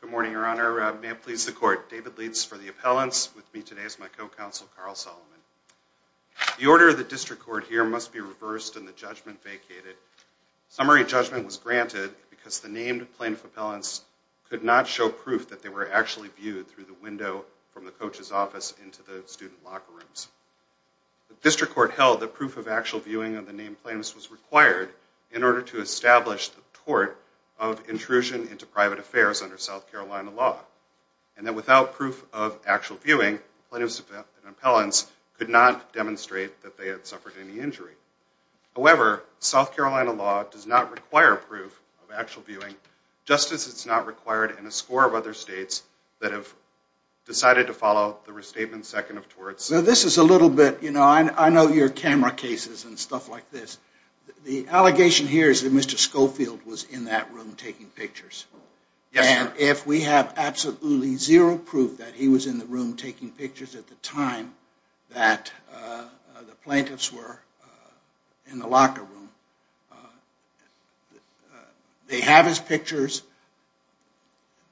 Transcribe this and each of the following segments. Good morning, Your Honor. May it please the Court, David Leitz for the appellants. With me today is my co-counsel, Carl Solomon. The order of the District Court here must be reversed and the judgment vacated. Summary judgment was granted because the named plaintiff appellants could not show proof that they were actually viewed through the window from the coach's office into the student locker rooms. The District Court held that proof of actual viewing of the named plaintiffs was required in order to establish the tort of intrusion into private affairs under South Carolina law. And that without proof of actual viewing, plaintiffs and appellants could not demonstrate that they had suffered any injury. However, South Carolina law does not require proof of actual viewing, just as it's not required in a score of other states that have decided to follow the restatement second of torts. So this is a little bit, you know, I know your camera cases and stuff like this. The allegation here is that Mr. Schofield was in that room taking pictures. And if we have absolutely zero proof that he was in the room taking pictures at the time that the plaintiffs were in the locker room, they have his pictures.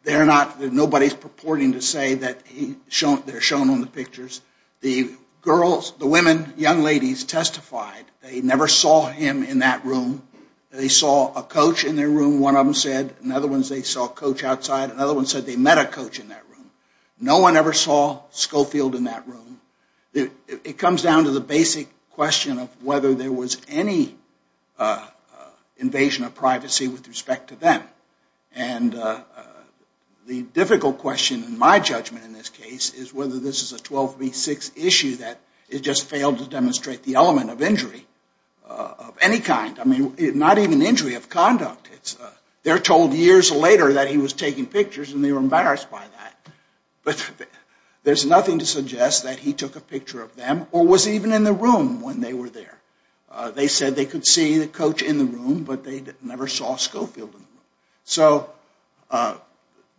Nobody's purporting to say that they're shown on the pictures. The girls, the women, young ladies testified they never saw him in that room. They saw a coach in their room, one of them said. Another one said they saw a coach outside. Another one said they met a coach in that room. No one ever saw Schofield in that room. It comes down to the basic question of whether there was any invasion of privacy with respect to them. And the difficult question in my judgment in this case is whether this is a 12 v. 6 issue that it just failed to demonstrate the element of injury of any kind. I mean, not even injury of conduct. They're told years later that he was taking pictures and they were embarrassed by that. But there's nothing to suggest that he took a picture of them or was even in the room when they were there. They said they could see the coach in the room, but they never saw Schofield in the room. So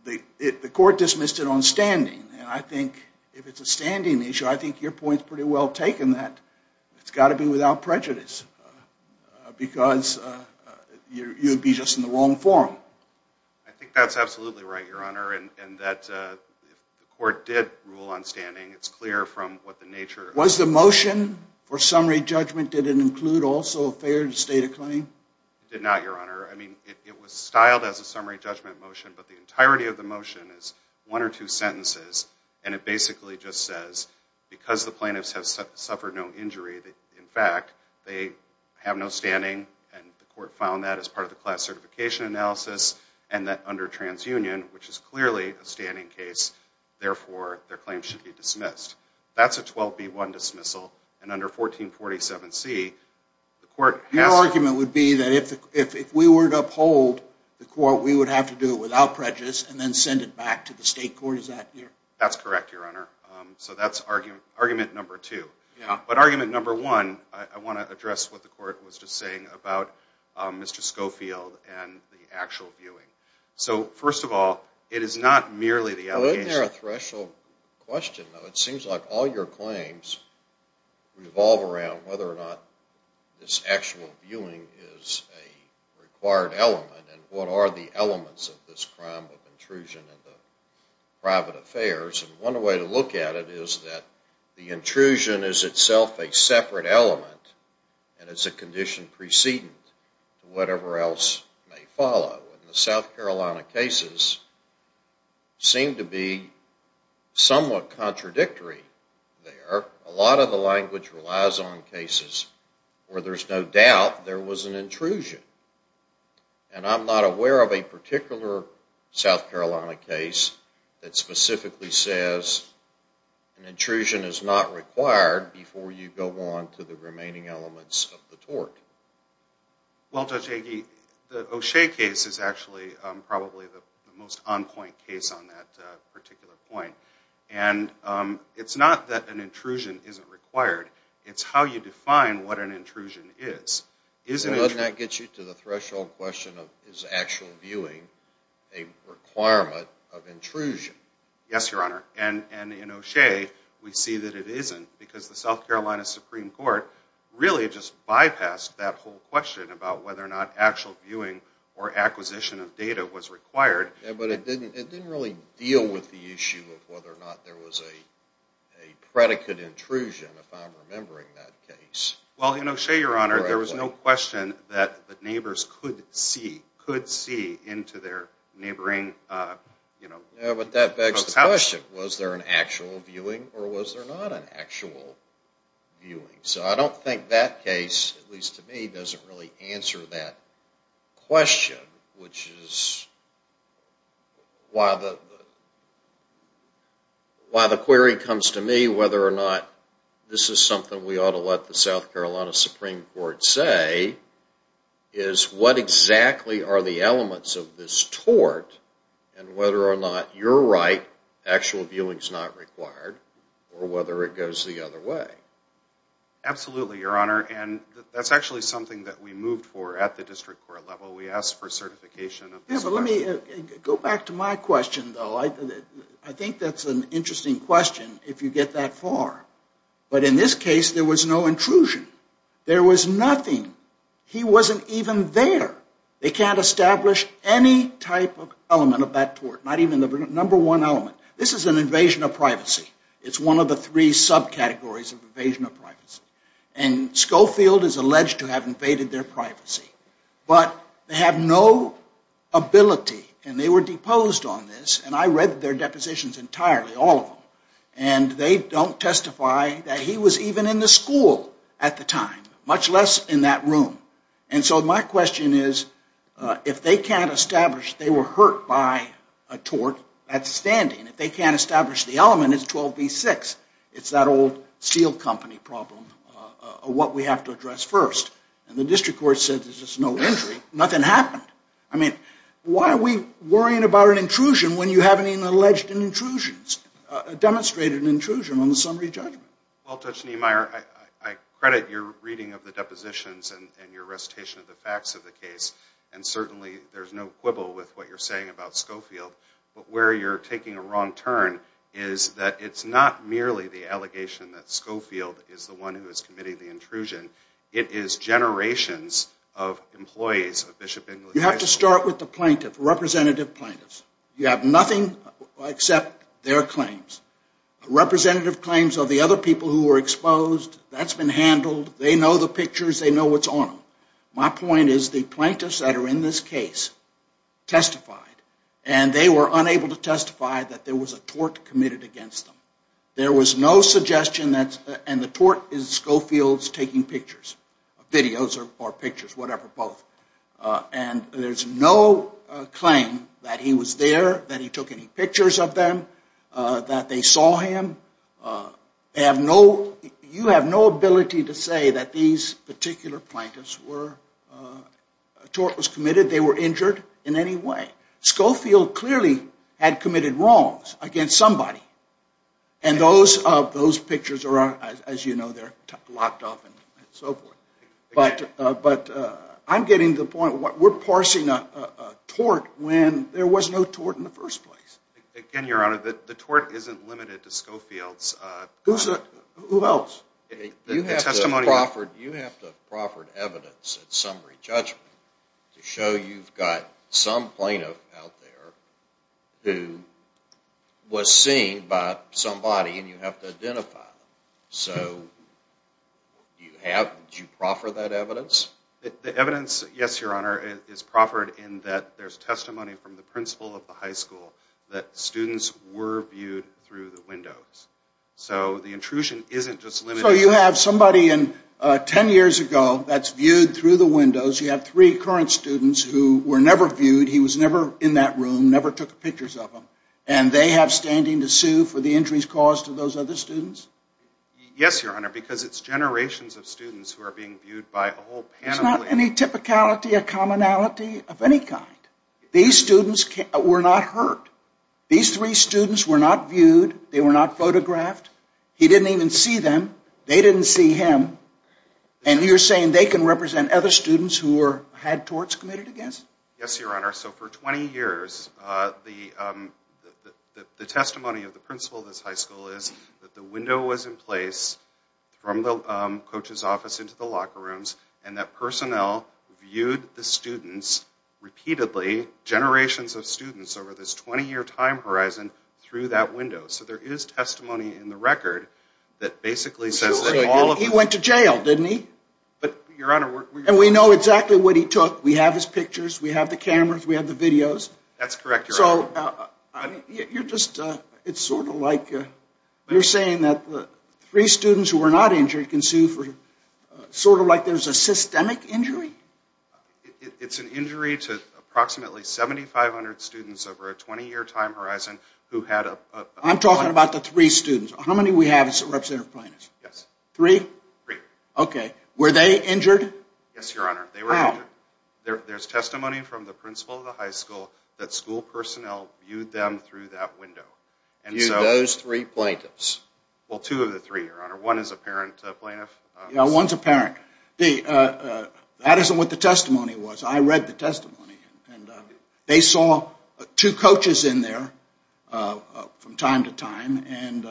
the court dismissed it on standing. And I think if it's a standing issue, I think your point's pretty well taken that it's got to be without prejudice. Because you'd be just in the wrong forum. I think that's absolutely right, Your Honor, and that the court did rule on standing. It's clear from what the nature... Was the motion for summary judgment, did it include also a failed state of claim? It did not, Your Honor. I mean, it was styled as a summary judgment motion, but the entirety of the motion is one or two sentences. And it basically just says, because the plaintiffs have suffered no injury, in fact, they have no standing. And the court found that as part of the class certification analysis, and that under transunion, which is clearly a standing case, therefore, their claim should be dismissed. That's a 12B1 dismissal, and under 1447C, the court has... Your argument would be that if we were to uphold the court, we would have to do it without prejudice and then send it back to the state court, is that it? That's correct, Your Honor. So that's argument number two. But argument number one, I want to address what the court was just saying about Mr. Schofield and the actual viewing. So, first of all, it is not merely the... Isn't there a threshold question, though? It seems like all your claims revolve around whether or not this actual viewing is a required element, and what are the elements of this crime of intrusion in the private affairs. And one way to look at it is that the intrusion is itself a separate element, and it's a condition precedent to whatever else may follow. And the South Carolina cases seem to be somewhat contradictory there. A lot of the language relies on cases where there's no doubt there was an intrusion. And I'm not aware of a particular South Carolina case that specifically says an intrusion is not required before you go on to the remaining elements of the tort. Well, Judge Agee, the O'Shea case is actually probably the most on-point case on that particular point. And it's not that an intrusion isn't required. It's how you define what an intrusion is. Doesn't that get you to the threshold question of is actual viewing a requirement of intrusion? Yes, Your Honor. And in O'Shea, we see that it isn't, because the South Carolina Supreme Court really just bypassed that whole question about whether or not actual viewing or acquisition of data was required. Yeah, but it didn't really deal with the issue of whether or not there was a predicate intrusion, if I'm remembering that case. Well, in O'Shea, Your Honor, there was no question that the neighbors could see into their neighboring... Yeah, but that begs the question, was there an actual viewing or was there not an actual viewing? So I don't think that case, at least to me, doesn't really answer that question, which is why the query comes to me whether or not this is something we ought to let the South Carolina Supreme Court say, is what exactly are the elements of this tort, and whether or not you're right, actual viewing's not required, or whether it goes the other way. Absolutely, Your Honor. And that's actually something that we moved for at the district court level. We asked for certification of this question. Yeah, but let me go back to my question, though. I think that's an interesting question, if you get that far. But in this case, there was no intrusion. There was nothing. He wasn't even there. They can't establish any type of element of that tort, not even the number one element. This is an invasion of privacy. It's one of the three subcategories of invasion of privacy. And Schofield is alleged to have invaded their privacy. But they have no ability, and they were deposed on this, and I read their depositions entirely, all of them, and they don't testify that he was even in the school at the time, much less in that room. And so my question is, if they can't establish they were hurt by a tort, that's standing. If they can't establish the element, it's 12B6. It's that old seal company problem of what we have to address first. And the district court said there's just no injury. Nothing happened. I mean, why are we worrying about an intrusion when you haven't even alleged an intrusion, demonstrated an intrusion on the summary judgment? Well, Judge Niemeyer, I credit your reading of the depositions and your recitation of the facts of the case, and certainly there's no quibble with what you're saying about Schofield. But where you're taking a wrong turn is that it's not merely the allegation that Schofield is the one who is committing the intrusion. It is generations of employees of Bishop Inglewood High School. You have to start with the plaintiff, representative plaintiffs. You have nothing except their claims. Representative claims are the other people who were exposed. That's been handled. They know the pictures. They know what's on them. My point is the plaintiffs that are in this case testified, and they were unable to testify that there was a tort committed against them. There was no suggestion that, and the tort is Schofield's taking pictures, videos or pictures, whatever, both. And there's no claim that he was there, that he took any pictures of them, that they saw him. You have no ability to say that these particular plaintiffs were, a tort was committed, they were injured in any way. Schofield clearly had committed wrongs against somebody. And those pictures are, as you know, they're locked up and so forth. But I'm getting to the point, we're parsing a tort when there was no tort in the first place. Again, Your Honor, the tort isn't limited to Schofield's. Who else? You have to proffered evidence at summary judgment to show you've got some plaintiff out there who was seen by somebody and you have to identify them. So, do you proffer that evidence? The evidence, yes, Your Honor, is proffered in that there's testimony from the principal of the high school that students were viewed through the windows. So, the intrusion isn't just limited to... So, you have somebody in, ten years ago, that's viewed through the windows, you have three current students who were never viewed, he was never in that room, never took pictures of them, and they have standing to sue for the injuries caused to those other students? Yes, Your Honor, because it's generations of students who are being viewed by a whole panoply... There's not any typicality, a commonality of any kind. These students were not hurt. These three students were not viewed, they were not photographed, he didn't even see them, they didn't see him, and you're saying they can represent other students who had torts committed against them? Yes, Your Honor, so for 20 years, the testimony of the principal of this high school is that the window was in place from the coach's office into the locker rooms and that personnel viewed the students, repeatedly, generations of students over this 20 year time horizon through that window. So, there is testimony in the record that basically says... Well, he went to jail, didn't he? And we know exactly what he took, we have his pictures, we have the cameras, we have the videos. That's correct, Your Honor. So, you're just, it's sort of like, you're saying that three students who were not injured can sue for, sort of like there's a systemic injury? It's an injury to approximately 7,500 students over a 20 year time horizon who had... I'm talking about the three students. How many we have as representative plaintiffs? Yes. Three? Three. Okay. Were they injured? Yes, Your Honor, they were injured. How? There's testimony from the principal of the high school that school personnel viewed them through that window. Viewed those three plaintiffs? Well, two of the three, Your Honor. One is a parent plaintiff. Yeah, one's a parent. That isn't what the testimony was. I read the testimony. And they saw two coaches in there from time to time. And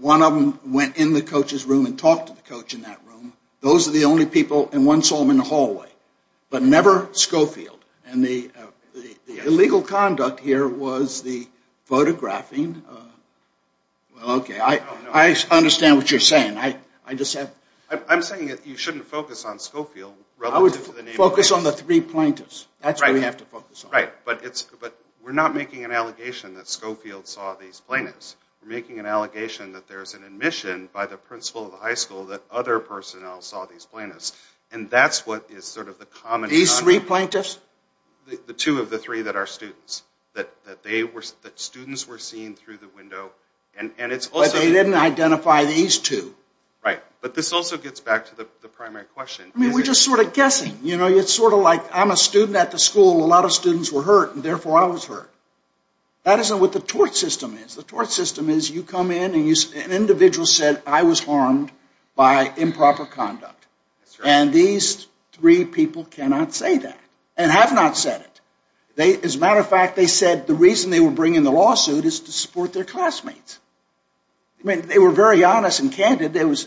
one of them went in the coach's room and talked to the coach in that room. Those are the only people, and one saw him in the hallway. But never Schofield. And the illegal conduct here was the photographing... Well, okay. I understand what you're saying. I just have... I'm saying that you shouldn't focus on Schofield. Focus on the three plaintiffs. That's what we have to focus on. Right. But we're not making an allegation that Schofield saw these plaintiffs. We're making an allegation that there's an admission by the principal of the high school that other personnel saw these plaintiffs. And that's what is sort of the common... These three plaintiffs? The two of the three that are students. That students were seen through the window. But they didn't identify these two. Right. But this also gets back to the primary question. I mean, we're just sort of guessing. It's sort of like I'm a student at the school. A lot of students were hurt, and therefore I was hurt. That isn't what the tort system is. The tort system is you come in and an individual said, I was harmed by improper conduct. And these three people cannot say that. And have not said it. As a matter of fact, they said the reason they were bringing the lawsuit is to support their classmates. I mean, they were very honest and candid. It was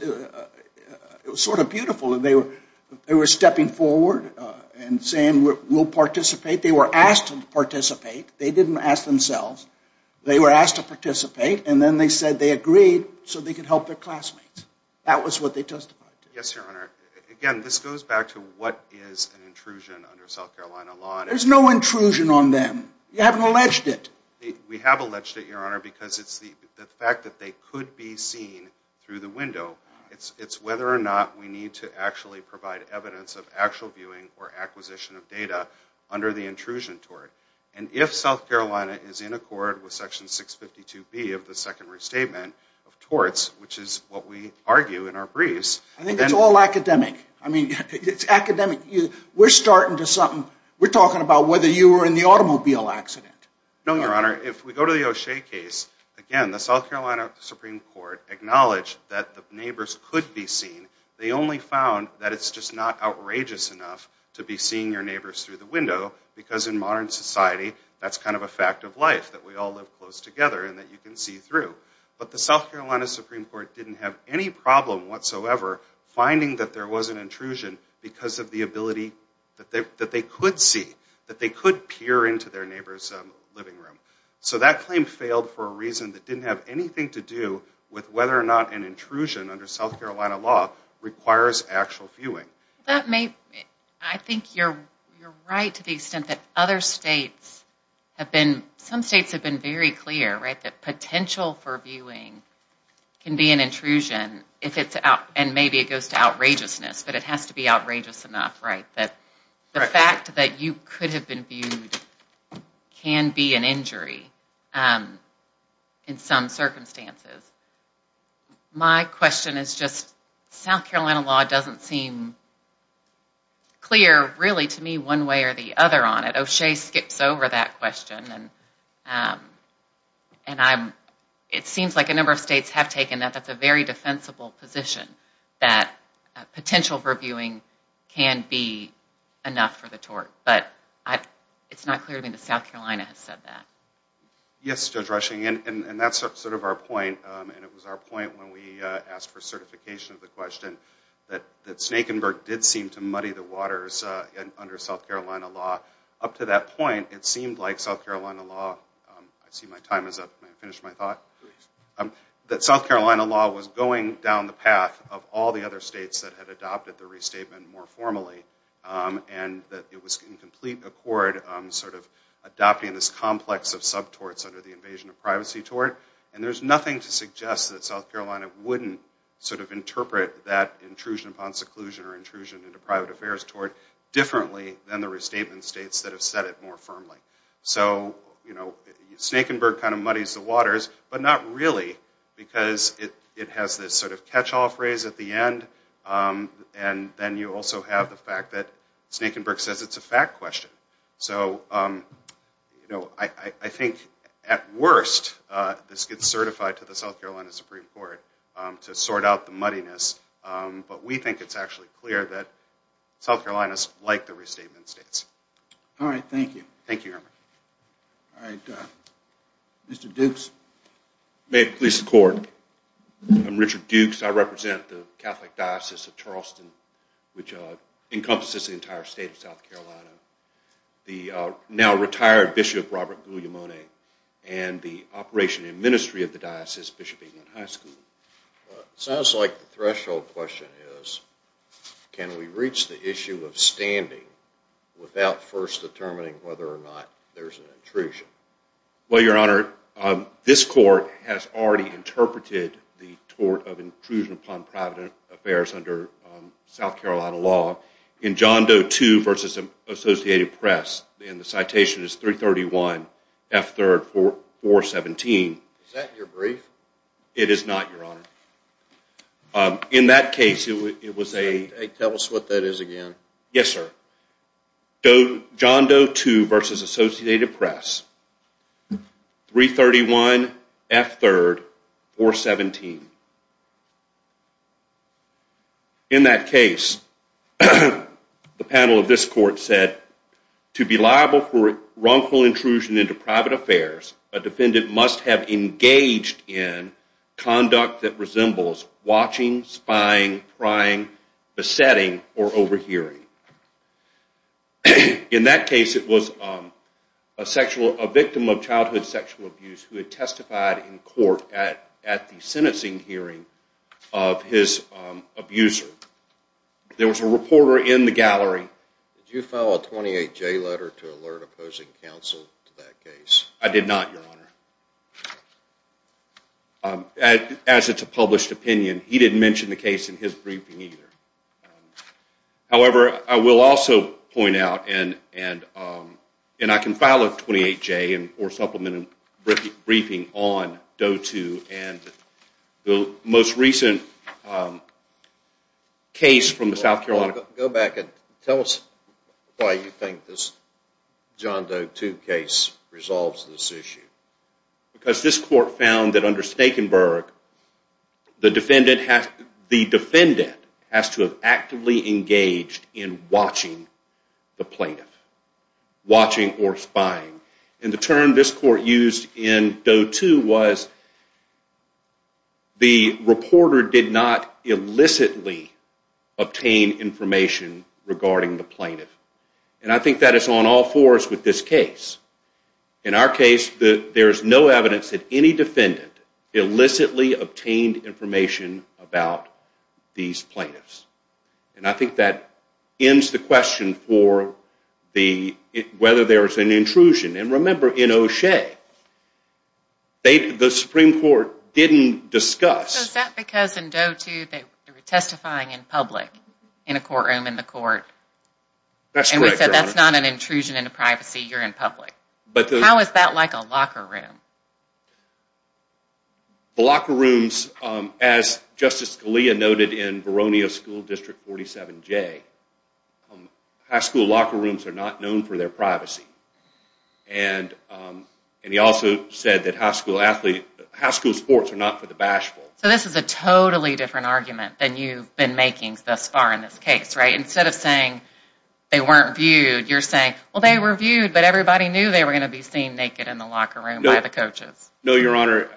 sort of beautiful. They were stepping forward and saying we'll participate. They were asked to participate. They didn't ask themselves. They were asked to participate, and then they said they agreed so they could help their classmates. That was what they testified to. Yes, Your Honor. Again, this goes back to what is an intrusion under South Carolina law. There's no intrusion on them. You haven't alleged it. We have alleged it, Your Honor, because it's the fact that they could be seen through the window. It's whether or not we need to actually provide evidence of actual viewing or acquisition of data under the intrusion tort. And if South Carolina is in accord with Section 652B of the Second Restatement of torts, which is what we argue in our briefs. I think it's all academic. I mean, it's academic. We're starting to something. We're talking about whether you were in the automobile accident. No, Your Honor. If we go to the O'Shea case, again, the South Carolina Supreme Court acknowledged that the neighbors could be seen. They only found that it's just not outrageous enough to be seeing your neighbors through the window. Because in modern society, that's kind of a fact of life that we all live close together and that you can see through. But the South Carolina Supreme Court didn't have any problem whatsoever finding that there was an intrusion because of the ability that they could see. That they could peer into their neighbor's living room. So that claim failed for a reason that didn't have anything to do with whether or not an intrusion under South Carolina law requires actual viewing. I think you're right to the extent that some states have been very clear that potential for viewing can be an intrusion. And maybe it goes to outrageousness, but it has to be outrageous enough. The fact that you could have been viewed can be an injury in some circumstances. My question is just South Carolina law doesn't seem clear really to me one way or the other on it. O'Shea skips over that question and it seems like a number of states have taken that that's a very defensible position. That potential for viewing can be enough for the tort. But it's not clear to me that South Carolina has said that. Yes, Judge Rushing. And that's sort of our point. And it was our point when we asked for certification of the question. That Snakenburg did seem to muddy the waters under South Carolina law. Up to that point it seemed like South Carolina law. I see my time is up. May I finish my thought? Please. That South Carolina law was going down the path of all the other states that had adopted the restatement more formally. And that it was in complete accord sort of adopting this complex of sub-torts under the invasion of privacy tort. And there's nothing to suggest that South Carolina wouldn't sort of interpret that intrusion upon seclusion or intrusion into private affairs tort differently than the restatement states that have said it more firmly. So, you know, Snakenburg kind of muddies the waters, but not really because it has this sort of catch-all phrase at the end. And then you also have the fact that Snakenburg says it's a fact question. So, you know, I think at worst this gets certified to the South Carolina Supreme Court to sort out the muddiness. But we think it's actually clear that South Carolina is like the restatement states. All right. Thank you. Thank you, Herman. All right. Mr. Dukes. May it please the Court. I'm Richard Dukes. I represent the Catholic Diocese of Charleston, which encompasses the entire state of South Carolina. The now-retired Bishop Robert Guglielmone and the operation and ministry of the diocese, Bishop England High School. It sounds like the threshold question is can we reach the issue of standing without first determining whether or not there's an intrusion? Well, Your Honor, this Court has already interpreted the tort of intrusion upon private affairs under South Carolina law. In John Doe II v. Associated Press, and the citation is 331 F. 3rd 417. Is that your brief? It is not, Your Honor. In that case, it was a… Tell us what that is again. Yes, sir. John Doe II v. Associated Press, 331 F. 3rd 417. In that case, the panel of this Court said, to be liable for wrongful intrusion into private affairs, a defendant must have engaged in conduct that resembles watching, spying, prying, besetting, or overhearing. In that case, it was a victim of childhood sexual abuse who had testified in court at the sentencing hearing of his abuser. There was a reporter in the gallery… Did you file a 28J letter to alert opposing counsel to that case? I did not, Your Honor. As it's a published opinion, he didn't mention the case in his briefing either. However, I will also point out, and I can file a 28J or supplemented briefing on Doe II, and the most recent case from the South Carolina… Go back and tell us why you think this John Doe II case resolves this issue. Because this Court found that under Stakenberg, the defendant has to have actively engaged in watching the plaintiff, watching or spying. And the term this Court used in Doe II was, the reporter did not illicitly obtain information regarding the plaintiff. And I think that is on all fours with this case. In our case, there is no evidence that any defendant illicitly obtained information about these plaintiffs. And I think that ends the question for whether there is an intrusion. And remember, in O'Shea, the Supreme Court didn't discuss… Is that because in Doe II, they were testifying in public in a courtroom in the Court? That's correct, Your Honor. You're in public. How is that like a locker room? The locker rooms, as Justice Scalia noted in Veronio School District 47J, high school locker rooms are not known for their privacy. And he also said that high school sports are not for the bashful. So this is a totally different argument than you've been making thus far in this case, right? They weren't viewed. You're saying, well, they were viewed, but everybody knew they were going to be seen naked in the locker room by the coaches. No, Your Honor.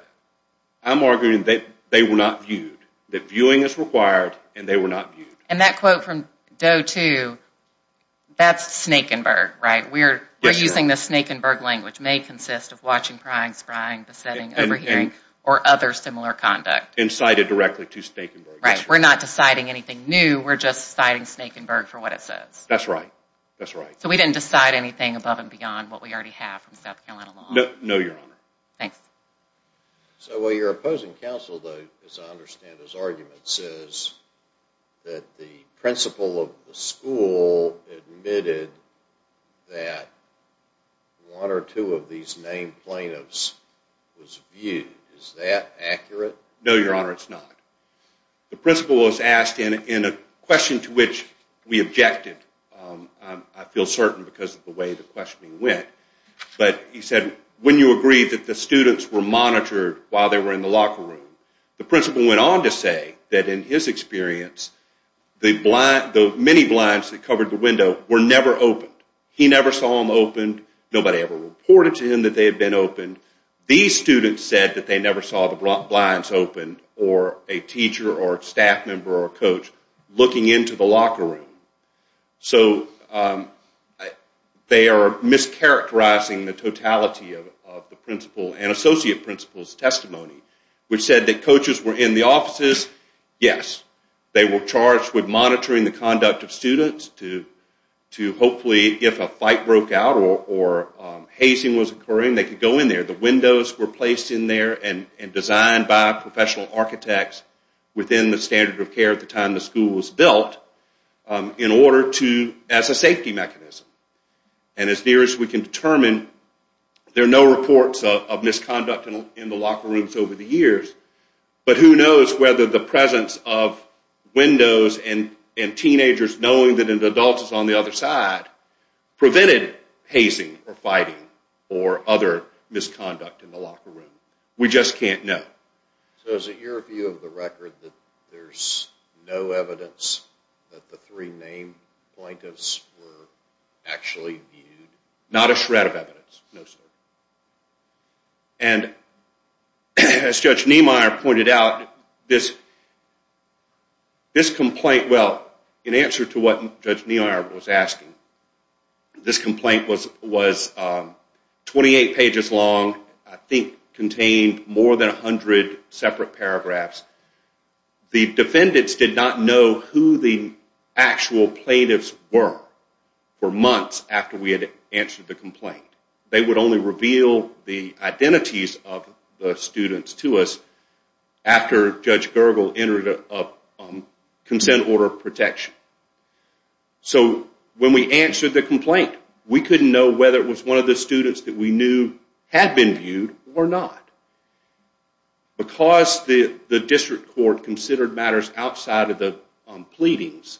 I'm arguing that they were not viewed. That viewing is required, and they were not viewed. And that quote from Doe II, that's Snake and Berg, right? We're using the Snake and Berg language. May consist of watching, prying, sprying, besetting, overhearing, or other similar conduct. And cited directly to Snake and Berg. Right. We're not deciding anything new. We're just citing Snake and Berg for what it says. That's right. That's right. So we didn't decide anything above and beyond what we already have from South Carolina law. No, Your Honor. Thanks. So your opposing counsel, though, as I understand his argument, says that the principal of the school admitted that one or two of these named plaintiffs was viewed. Is that accurate? No, Your Honor. It's not. The principal was asked in a question to which we objected. I feel certain because of the way the questioning went. But he said, when you agree that the students were monitored while they were in the locker room, the principal went on to say that in his experience, the many blinds that covered the window were never opened. He never saw them opened. Nobody ever reported to him that they had been opened. These students said that they never saw the blinds opened or a teacher or a staff member or a coach looking into the locker room. So they are mischaracterizing the totality of the principal and associate principal's testimony, which said that coaches were in the offices. Yes. They were charged with monitoring the conduct of students to hopefully, if a fight broke out or hazing was occurring, they could go in there. The windows were placed in there and designed by professional architects within the standard of care at the time the school was built as a safety mechanism. And as near as we can determine, there are no reports of misconduct in the locker rooms over the years. But who knows whether the presence of windows and teenagers knowing that an adult is on the other side prevented hazing or fighting or other misconduct in the locker room. We just can't know. So is it your view of the record that there's no evidence that the three named plaintiffs were actually viewed? Not a shred of evidence. No, sir. And as Judge Niemeyer pointed out, this complaint, well, in answer to what Judge Niemeyer was asking, this complaint was 28 pages long, I think contained more than 100 separate paragraphs. The defendants did not know who the actual plaintiffs were for months after we had answered the complaint. They would only reveal the identities of the students to us after Judge Gergel entered a consent order of protection. So when we answered the complaint, we couldn't know whether it was one of the students that we knew had been viewed or not. Because the district court considered matters outside of the pleadings,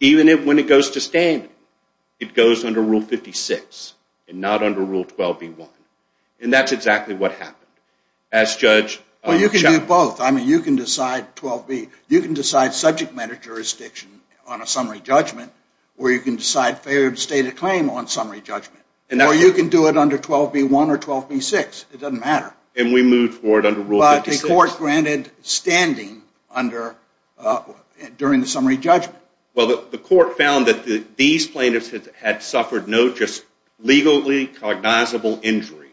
even when it goes to standing, it goes under Rule 56 and not under Rule 12B1. And that's exactly what happened. Well, you can do both. I mean, you can decide subject matter jurisdiction on a summary judgment, or you can decide failure to state a claim on a summary judgment. Or you can do it under 12B1 or 12B6. It doesn't matter. And we moved forward under Rule 56. But the court granted standing during the summary judgment. Well, the court found that these plaintiffs had suffered no just legally cognizable injury.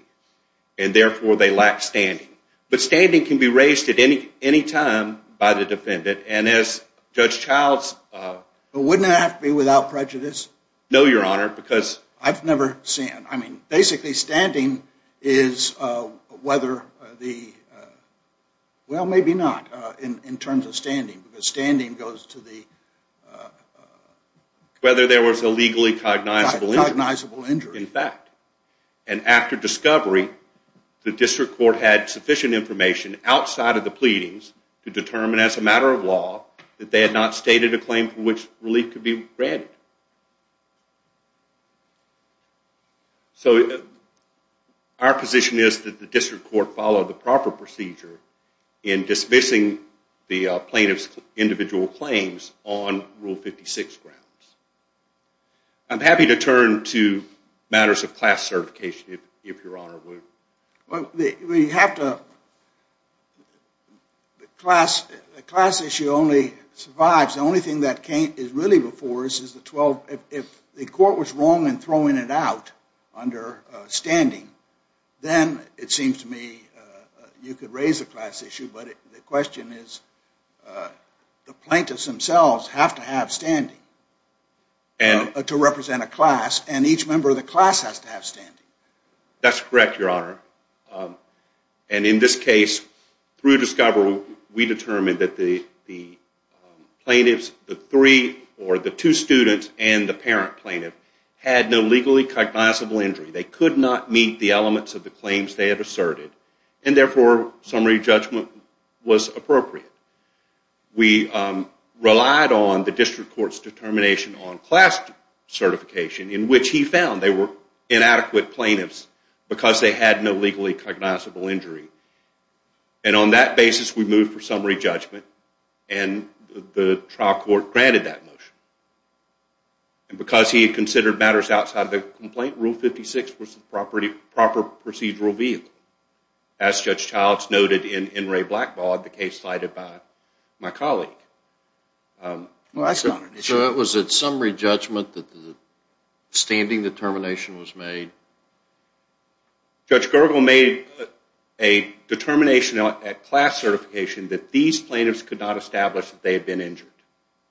And therefore, they lacked standing. But standing can be raised at any time by the defendant. And as Judge Childs- But wouldn't it have to be without prejudice? No, Your Honor, because- I've never seen it. I mean, basically, standing is whether the- Whether there was a legally cognizable injury. Cognizable injury. In fact. And after discovery, the district court had sufficient information outside of the pleadings to determine as a matter of law that they had not stated a claim for which relief could be granted. So our position is that the district court followed the proper procedure in dismissing the plaintiff's individual claims on Rule 56 grounds. I'm happy to turn to matters of class certification, if Your Honor would. Well, we have to- The class issue only survives. The only thing that is really before us is the 12- If the court was wrong in throwing it out under standing, then it seems to me you could raise the class issue, but the question is the plaintiffs themselves have to have standing to represent a class, and each member of the class has to have standing. That's correct, Your Honor. And in this case, through discovery, we determined that the plaintiffs, the three or the two students and the parent plaintiff, had no legally cognizable injury. They could not meet the elements of the claims they had asserted, and therefore summary judgment was appropriate. We relied on the district court's determination on class certification in which he found they were inadequate plaintiffs because they had no legally cognizable injury. And on that basis, we moved for summary judgment, and the trial court granted that motion. And because he had considered matters outside of the complaint, Rule 56 was the proper procedural vehicle, as Judge Childs noted in Ray Blackball, the case cited by my colleague. So it was at summary judgment that the standing determination was made? Judge Gergel made a determination at class certification that these plaintiffs could not establish that they had been injured,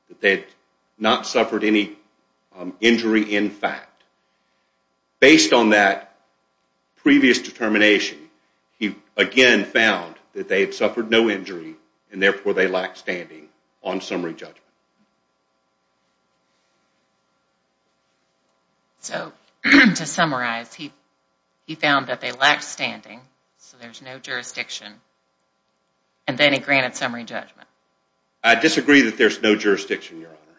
that they had not suffered any injury in fact. Based on that previous determination, he again found that they had suffered no injury, and therefore they lacked standing on summary judgment. So to summarize, he found that they lacked standing, so there's no jurisdiction, and then he granted summary judgment. I disagree that there's no jurisdiction, Your Honor,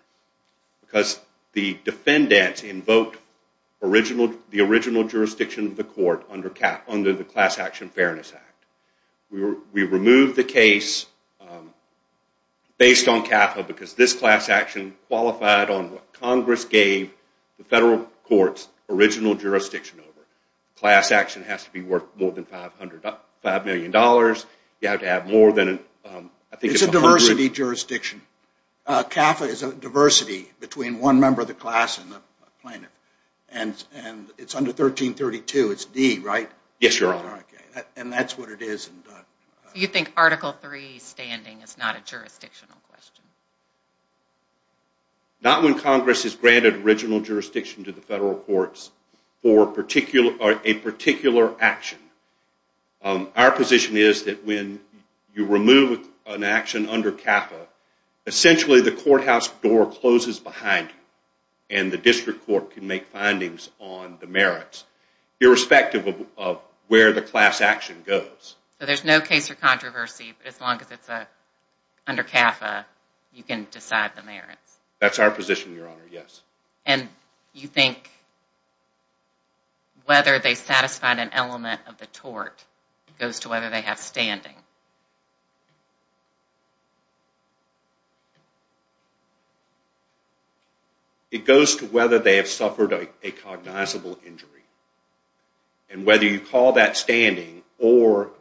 because the defendants invoked the original jurisdiction of the court under the Class Action Fairness Act. We removed the case based on CAFA because this class action qualified on what Congress gave the federal court's original jurisdiction over. Class action has to be worth more than $5 million. It's a diversity jurisdiction. CAFA is a diversity between one member of the class and the plaintiff. And it's under 1332, it's D, right? Yes, Your Honor. And that's what it is. You think Article III standing is not a jurisdictional question? Not when Congress has granted original jurisdiction to the federal courts for a particular action. Our position is that when you remove an action under CAFA, essentially the courthouse door closes behind you, and the district court can make findings on the merits, irrespective of where the class action goes. So there's no case for controversy as long as it's under CAFA, you can decide the merits? That's our position, Your Honor, yes. And you think whether they satisfied an element of the tort goes to whether they have standing? It goes to whether they have suffered a cognizable injury. And whether you call that standing or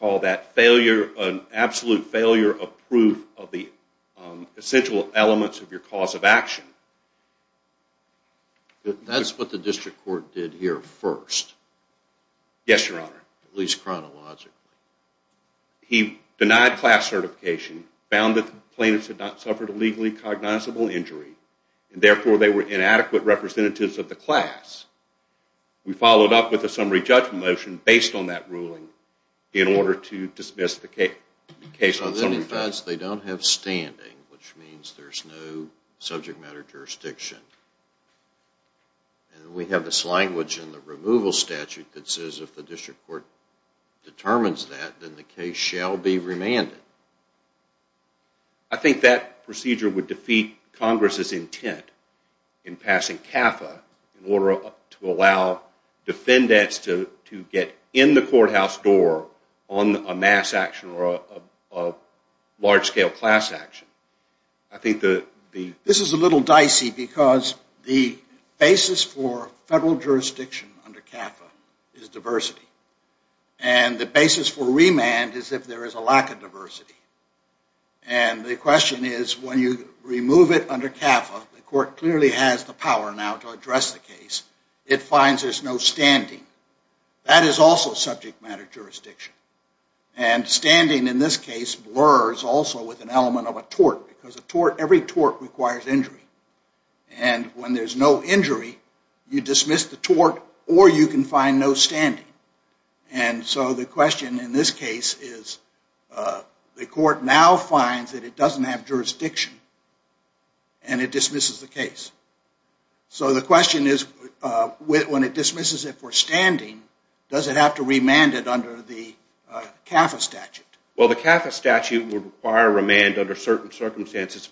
call that failure, an absolute failure of proof of the essential elements of your cause of action. That's what the district court did here first? Yes, Your Honor. At least chronologically. He denied class certification, found that the plaintiffs had not suffered a legally cognizable injury, and therefore they were inadequate representatives of the class. We followed up with a summary judgment motion based on that ruling in order to dismiss the case on summary judgment. It identifies they don't have standing, which means there's no subject matter jurisdiction. And we have this language in the removal statute that says if the district court determines that, then the case shall be remanded. I think that procedure would defeat Congress's intent in passing CAFA in order to allow defendants to get in the courthouse door on a mass action or a large-scale class action. This is a little dicey because the basis for federal jurisdiction under CAFA is diversity. And the basis for remand is if there is a lack of diversity. And the question is when you remove it under CAFA, the court clearly has the power now to address the case. It finds there's no standing. That is also subject matter jurisdiction. And standing in this case blurs also with an element of a tort because every tort requires injury. And when there's no injury, you dismiss the tort or you can find no standing. And so the question in this case is the court now finds that it doesn't have jurisdiction and it dismisses the case. So the question is when it dismisses it for standing, does it have to remand it under the CAFA statute? Well, the CAFA statute would require remand under certain circumstances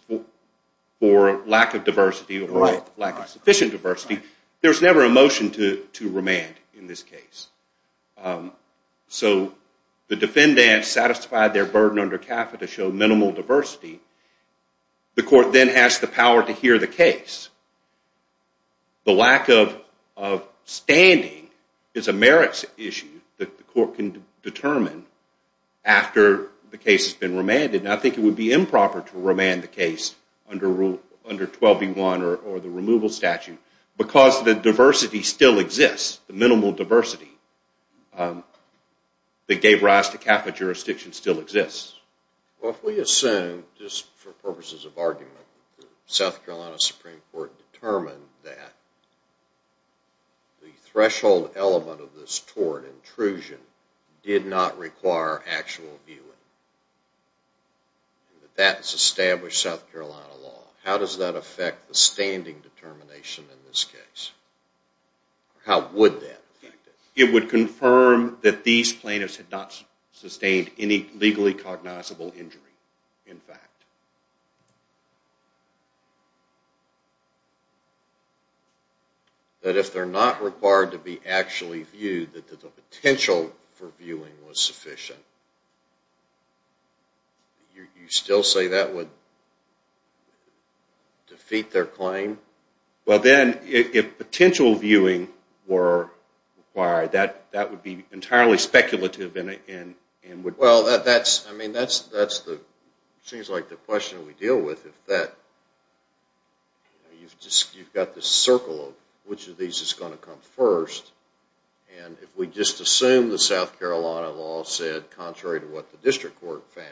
for lack of diversity or lack of sufficient diversity. There's never a motion to remand in this case. So the defendant satisfied their burden under CAFA to show minimal diversity. The court then has the power to hear the case. The lack of standing is a merits issue that the court can determine after the case has been remanded. And I think it would be improper to remand the case under 12B1 or the removal statute because the diversity still exists, the minimal diversity that gave rise to CAFA jurisdiction still exists. Well, if we assume, just for purposes of argument, the South Carolina Supreme Court determined that the threshold element of this tort intrusion did not require actual viewing, that that's established South Carolina law, how does that affect the standing determination in this case? How would that affect it? It would confirm that these plaintiffs had not sustained any legally cognizable injury, in fact. But if they're not required to be actually viewed, that the potential for viewing was sufficient, you still say that would defeat their claim? Well, then, if potential viewing were required, that would be entirely speculative. Well, that seems like the question we deal with. You've got this circle of which of these is going to come first. And if we just assume the South Carolina law said, contrary to what the district court found,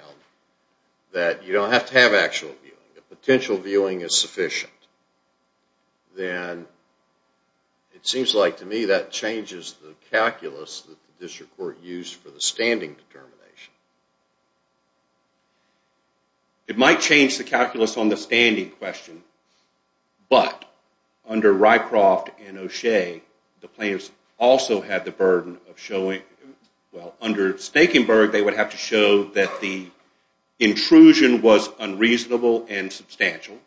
that you don't have to have actual viewing, that potential viewing is sufficient, then it seems like, to me, that changes the calculus that the district court used for the standing determination. It might change the calculus on the standing question, but under Rycroft and O'Shea, the plaintiffs also had the burden of showing, well, under Stakenberg, they would have to show that the intrusion was unreasonable and substantial.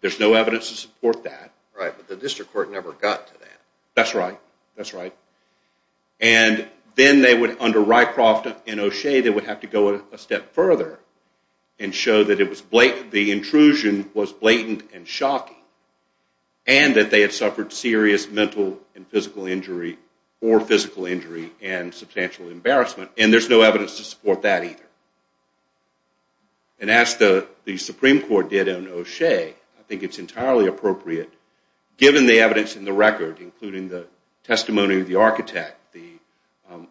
There's no evidence to support that. Right, but the district court never got to that. That's right. That's right. And then, under Rycroft and O'Shea, they would have to go a step further and show that the intrusion was blatant and shocking and that they had suffered serious mental and physical injury or physical injury and substantial embarrassment. And there's no evidence to support that either. And as the Supreme Court did in O'Shea, I think it's entirely appropriate, given the evidence in the record, including the testimony of the architect, the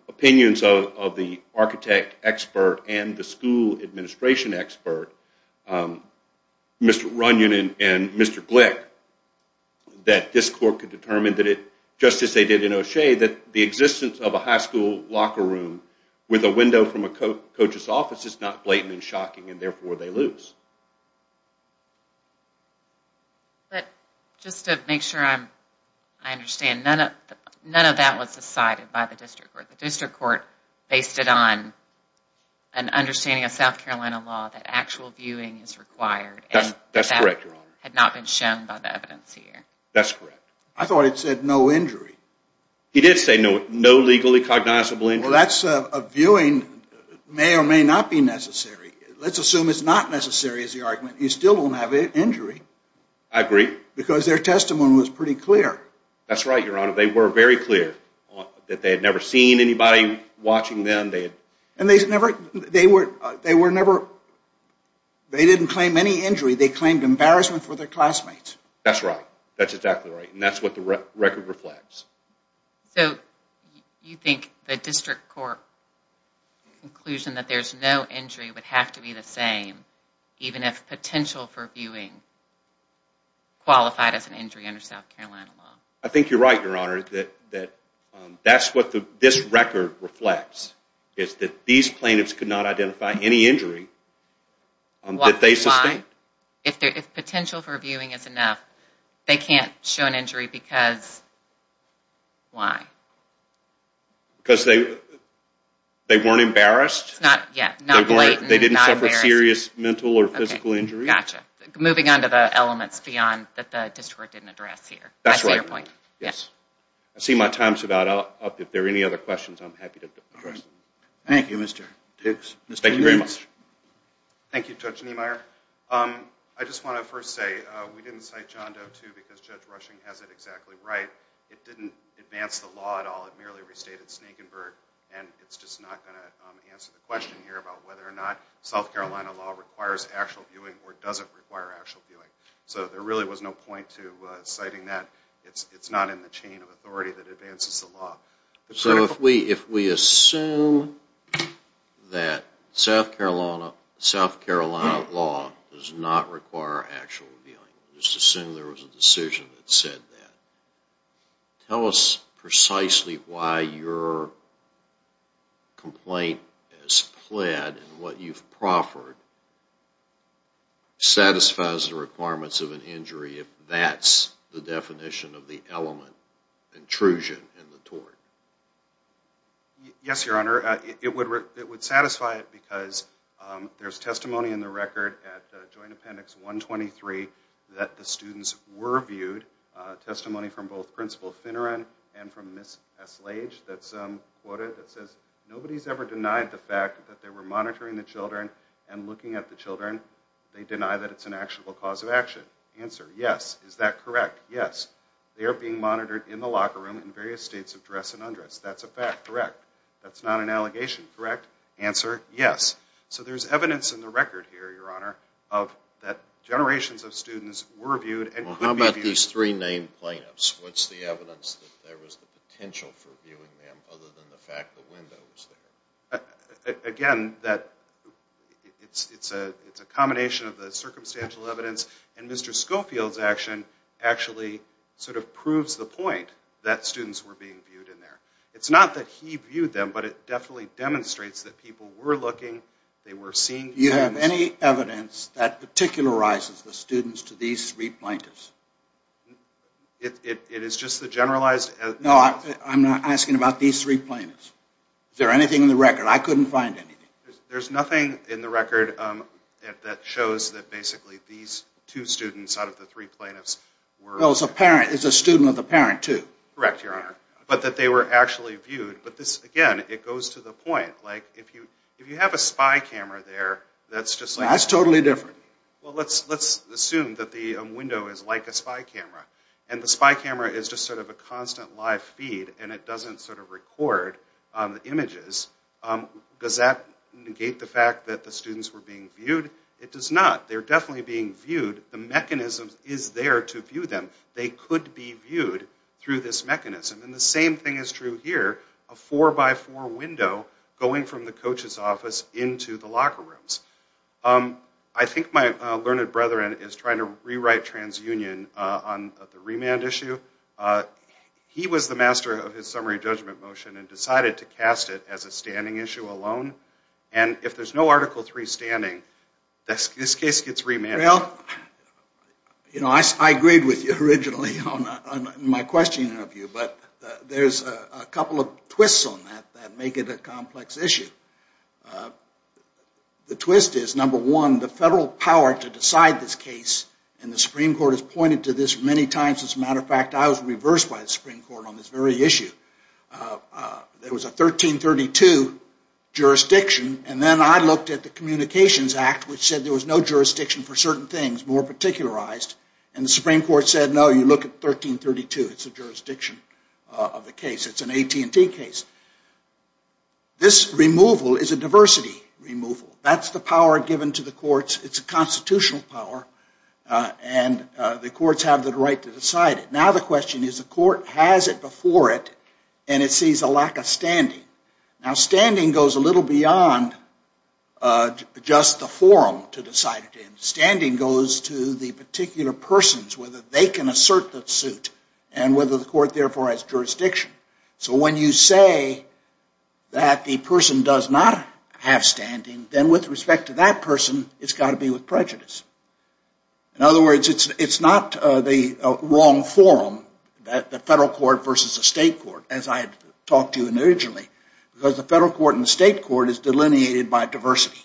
opinions of the architect expert and the school administration expert, Mr. Runyon and Mr. Glick, that this court could determine that it, just as they did in O'Shea, that the existence of a high school locker room with a window from a coach's office is not blatant and shocking and therefore they lose. But just to make sure I understand, none of that was decided by the district court. The district court based it on an understanding of South Carolina law that actual viewing is required. That's correct, Your Honor. And that had not been shown by the evidence here. That's correct. I thought it said no injury. It did say no legally cognizable injury. Well, that's a viewing may or may not be necessary. Let's assume it's not necessary is the argument. You still won't have an injury. I agree. Because their testimony was pretty clear. That's right, Your Honor. They were very clear that they had never seen anybody watching them. And they didn't claim any injury. They claimed embarrassment for their classmates. That's right. That's exactly right. And that's what the record reflects. So you think the district court conclusion that there's no injury would have to be the same even if potential for viewing qualified as an injury under South Carolina law? I think you're right, Your Honor, that that's what this record reflects is that these plaintiffs could not identify any injury that they sustained. Why? If potential for viewing is enough, they can't show an injury because why? Because they weren't embarrassed. Not yet. Not blatant. They didn't suffer serious mental or physical injury. Gotcha. Moving on to the elements beyond that the district didn't address here. That's right. I see your point. Yes. I see my time's about up. If there are any other questions, I'm happy to address them. Thank you, Mr. Dix. Thank you very much. Thank you, Judge Niemeyer. I just want to first say we didn't cite John Doe, too, because Judge Rushing has it exactly right. It didn't advance the law at all. It merely restated Sneakenburg, and it's just not going to answer the question here about whether or not South Carolina law requires actual viewing or doesn't require actual viewing. So there really was no point to citing that. It's not in the chain of authority that advances the law. So if we assume that South Carolina law does not require actual viewing, just assume there was a decision that said that, tell us precisely why your complaint as pled and what you've proffered satisfies the requirements of an injury if that's the definition of the element of intrusion in the tort. Yes, Your Honor, it would satisfy it because there's testimony in the record at Joint Appendix 123 that the students were viewed, testimony from both Principal Finneran and from Ms. Eslage that's quoted that says nobody's ever denied the fact that they were monitoring the children and looking at the children. They deny that it's an actionable cause of action. Answer, yes. Is that correct? Yes. They are being monitored in the locker room in various states of dress and undress. That's a fact. Correct. That's not an allegation. Correct. Answer, yes. So there's evidence in the record here, Your Honor, that generations of students were viewed and could be viewed. Well, how about these three named plaintiffs? What's the evidence that there was the potential for viewing them other than the fact the window was there? Again, it's a combination of the circumstantial evidence and Mr. Schofield's action actually sort of proves the point that students were being viewed in there. It's not that he viewed them, but it definitely demonstrates that people were looking, they were seeing... Do you have any evidence that particularizes the students to these three plaintiffs? It is just the generalized... No, I'm not asking about these three plaintiffs. Is there anything in the record? I couldn't find anything. There's nothing in the record that shows that basically these two students out of the three plaintiffs were... Well, it's a student of the parent, too. Correct, Your Honor. But that they were actually viewed. But this, again, it goes to the point, like if you have a spy camera there that's just like... That's totally different. Well, let's assume that the window is like a spy camera and the spy camera is just sort of a constant live feed and it doesn't sort of record the images. Does that negate the fact that the students were being viewed? It does not. They're definitely being viewed. The mechanism is there to view them. They could be viewed through this mechanism. And the same thing is true here, a four-by-four window going from the coach's office into the locker rooms. I think my learned brethren is trying to rewrite TransUnion on the remand issue. He was the master of his summary judgment motion and decided to cast it as a standing issue alone. And if there's no Article III standing, this case gets remanded. Well, you know, I agreed with you originally on my question of you, but there's a couple of twists on that that make it a complex issue. The twist is, number one, the federal power to decide this case, and the Supreme Court has pointed to this many times. As a matter of fact, I was reversed by the Supreme Court on this very issue. There was a 1332 jurisdiction, and then I looked at the Communications Act, which said there was no jurisdiction for certain things, more particularized, and the Supreme Court said, no, you look at 1332. It's a jurisdiction of the case. It's an AT&T case. This removal is a diversity removal. That's the power given to the courts. It's a constitutional power, and the courts have the right to decide it. Now the question is, the court has it before it, and it sees a lack of standing. Now standing goes a little beyond just the forum to decide it in. Standing goes to the particular persons, whether they can assert the suit, and whether the court therefore has jurisdiction. So when you say that the person does not have standing, then with respect to that person, it's got to be with prejudice. In other words, it's not the wrong forum. The federal court versus the state court, as I had talked to you originally, because the federal court and the state court is delineated by diversity,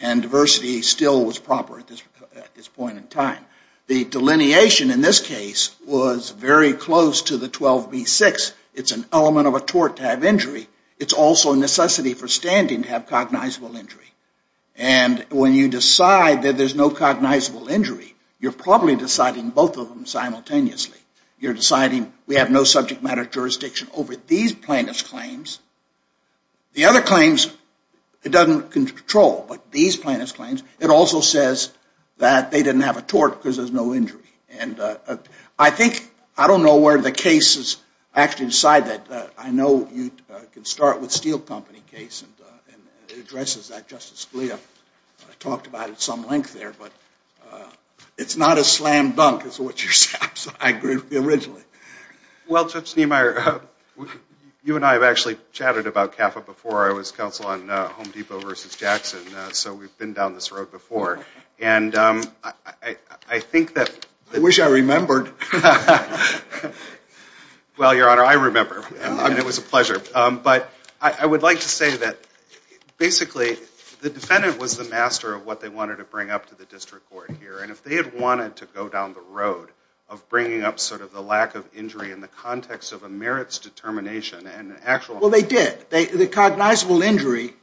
and diversity still was proper at this point in time. The delineation in this case was very close to the 12b-6. It's an element of a tort to have injury. It's also a necessity for standing to have cognizable injury, and when you decide that there's no cognizable injury, you're probably deciding both of them simultaneously. You're deciding we have no subject matter jurisdiction over these plaintiff's claims. The other claims, it doesn't control, but these plaintiff's claims, it also says that they didn't have a tort because there's no injury. And I think, I don't know where the cases actually decide that. I know you can start with Steel Company case, and it addresses that. Justice Scalia talked about it at some length there, but it's not as slam-dunk as what you're saying. So I agree originally. Well, Judge Niemeyer, you and I have actually chatted about CAFA before. I was counsel on Home Depot v. Jackson, so we've been down this road before. And I think that... I wish I remembered. Well, Your Honor, I remember. I mean, it was a pleasure. But I would like to say that, basically, the defendant was the master of what they wanted to bring up to the district court here, and if they had wanted to go down the road of bringing up sort of the lack of injury in the context of a merits determination and actual... Well, they did. The cognizable injury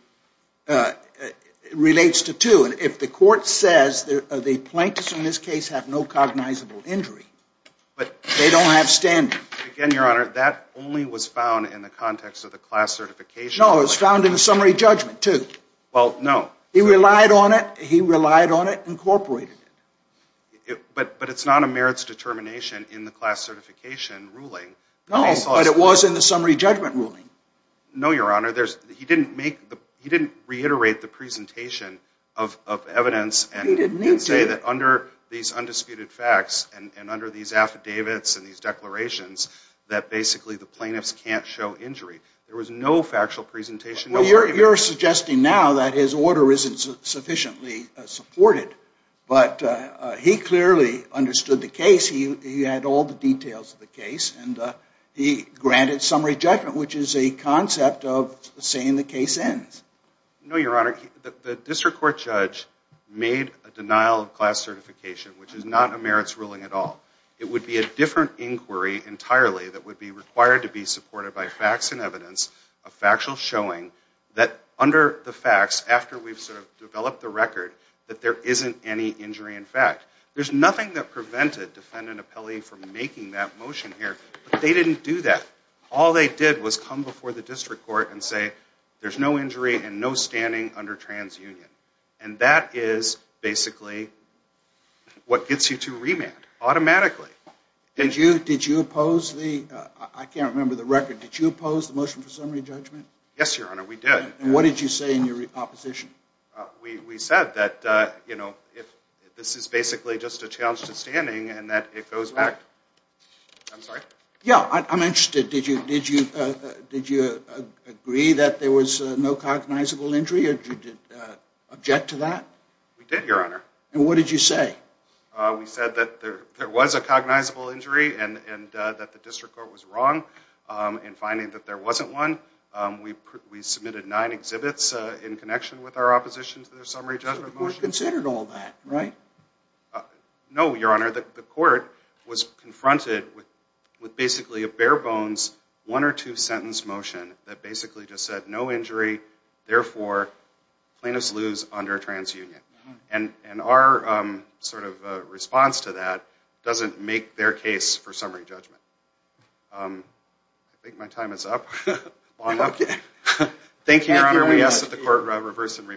relates to two. And if the court says the plaintiffs in this case have no cognizable injury, they don't have standing. Again, Your Honor, that only was found in the context of the class certification. No, it was found in the summary judgment, too. Well, no. He relied on it. He relied on it, incorporated it. But it's not a merits determination in the class certification ruling. No, but it was in the summary judgment ruling. No, Your Honor. He didn't make the... He didn't reiterate the presentation of evidence... He didn't need to. ...and say that under these undisputed facts and under these affidavits and these declarations that, basically, the plaintiffs can't show injury. There was no factual presentation... Well, you're suggesting now that his order isn't sufficiently supported, but he clearly understood the case. He had all the details of the case, and he granted summary judgment, which is a concept of saying the case ends. No, Your Honor. The district court judge made a denial of class certification, which is not a merits ruling at all. It would be a different inquiry entirely that would be required to be supported by facts and evidence, a factual showing, that under the facts, after we've sort of developed the record, that there isn't any injury in fact. There's nothing that prevented defendant appellee from making that motion here, but they didn't do that. All they did was come before the district court and say there's no injury and no standing under transunion. And that is, basically, what gets you to remand automatically. Did you oppose the... I can't remember the record. Did you oppose the motion for summary judgment? Yes, Your Honor, we did. And what did you say in your opposition? We said that, you know, this is basically just a challenge to standing and that it goes back... I'm sorry? Yeah, I'm interested. Did you agree that there was no cognizable injury or did you object to that? We did, Your Honor. And what did you say? We said that there was a cognizable injury and that the district court was wrong in finding that there wasn't one. We submitted nine exhibits in connection with our opposition to the summary judgment motion. So the court considered all that, right? No, Your Honor. The court was confronted with, basically, a bare-bones one- or two-sentence motion that basically just said no injury, therefore, plaintiffs lose under transunion. And our sort of response to that doesn't make their case for summary judgment. I think my time is up. Long up? Thank you, Your Honor. We ask that the court reverse and remand.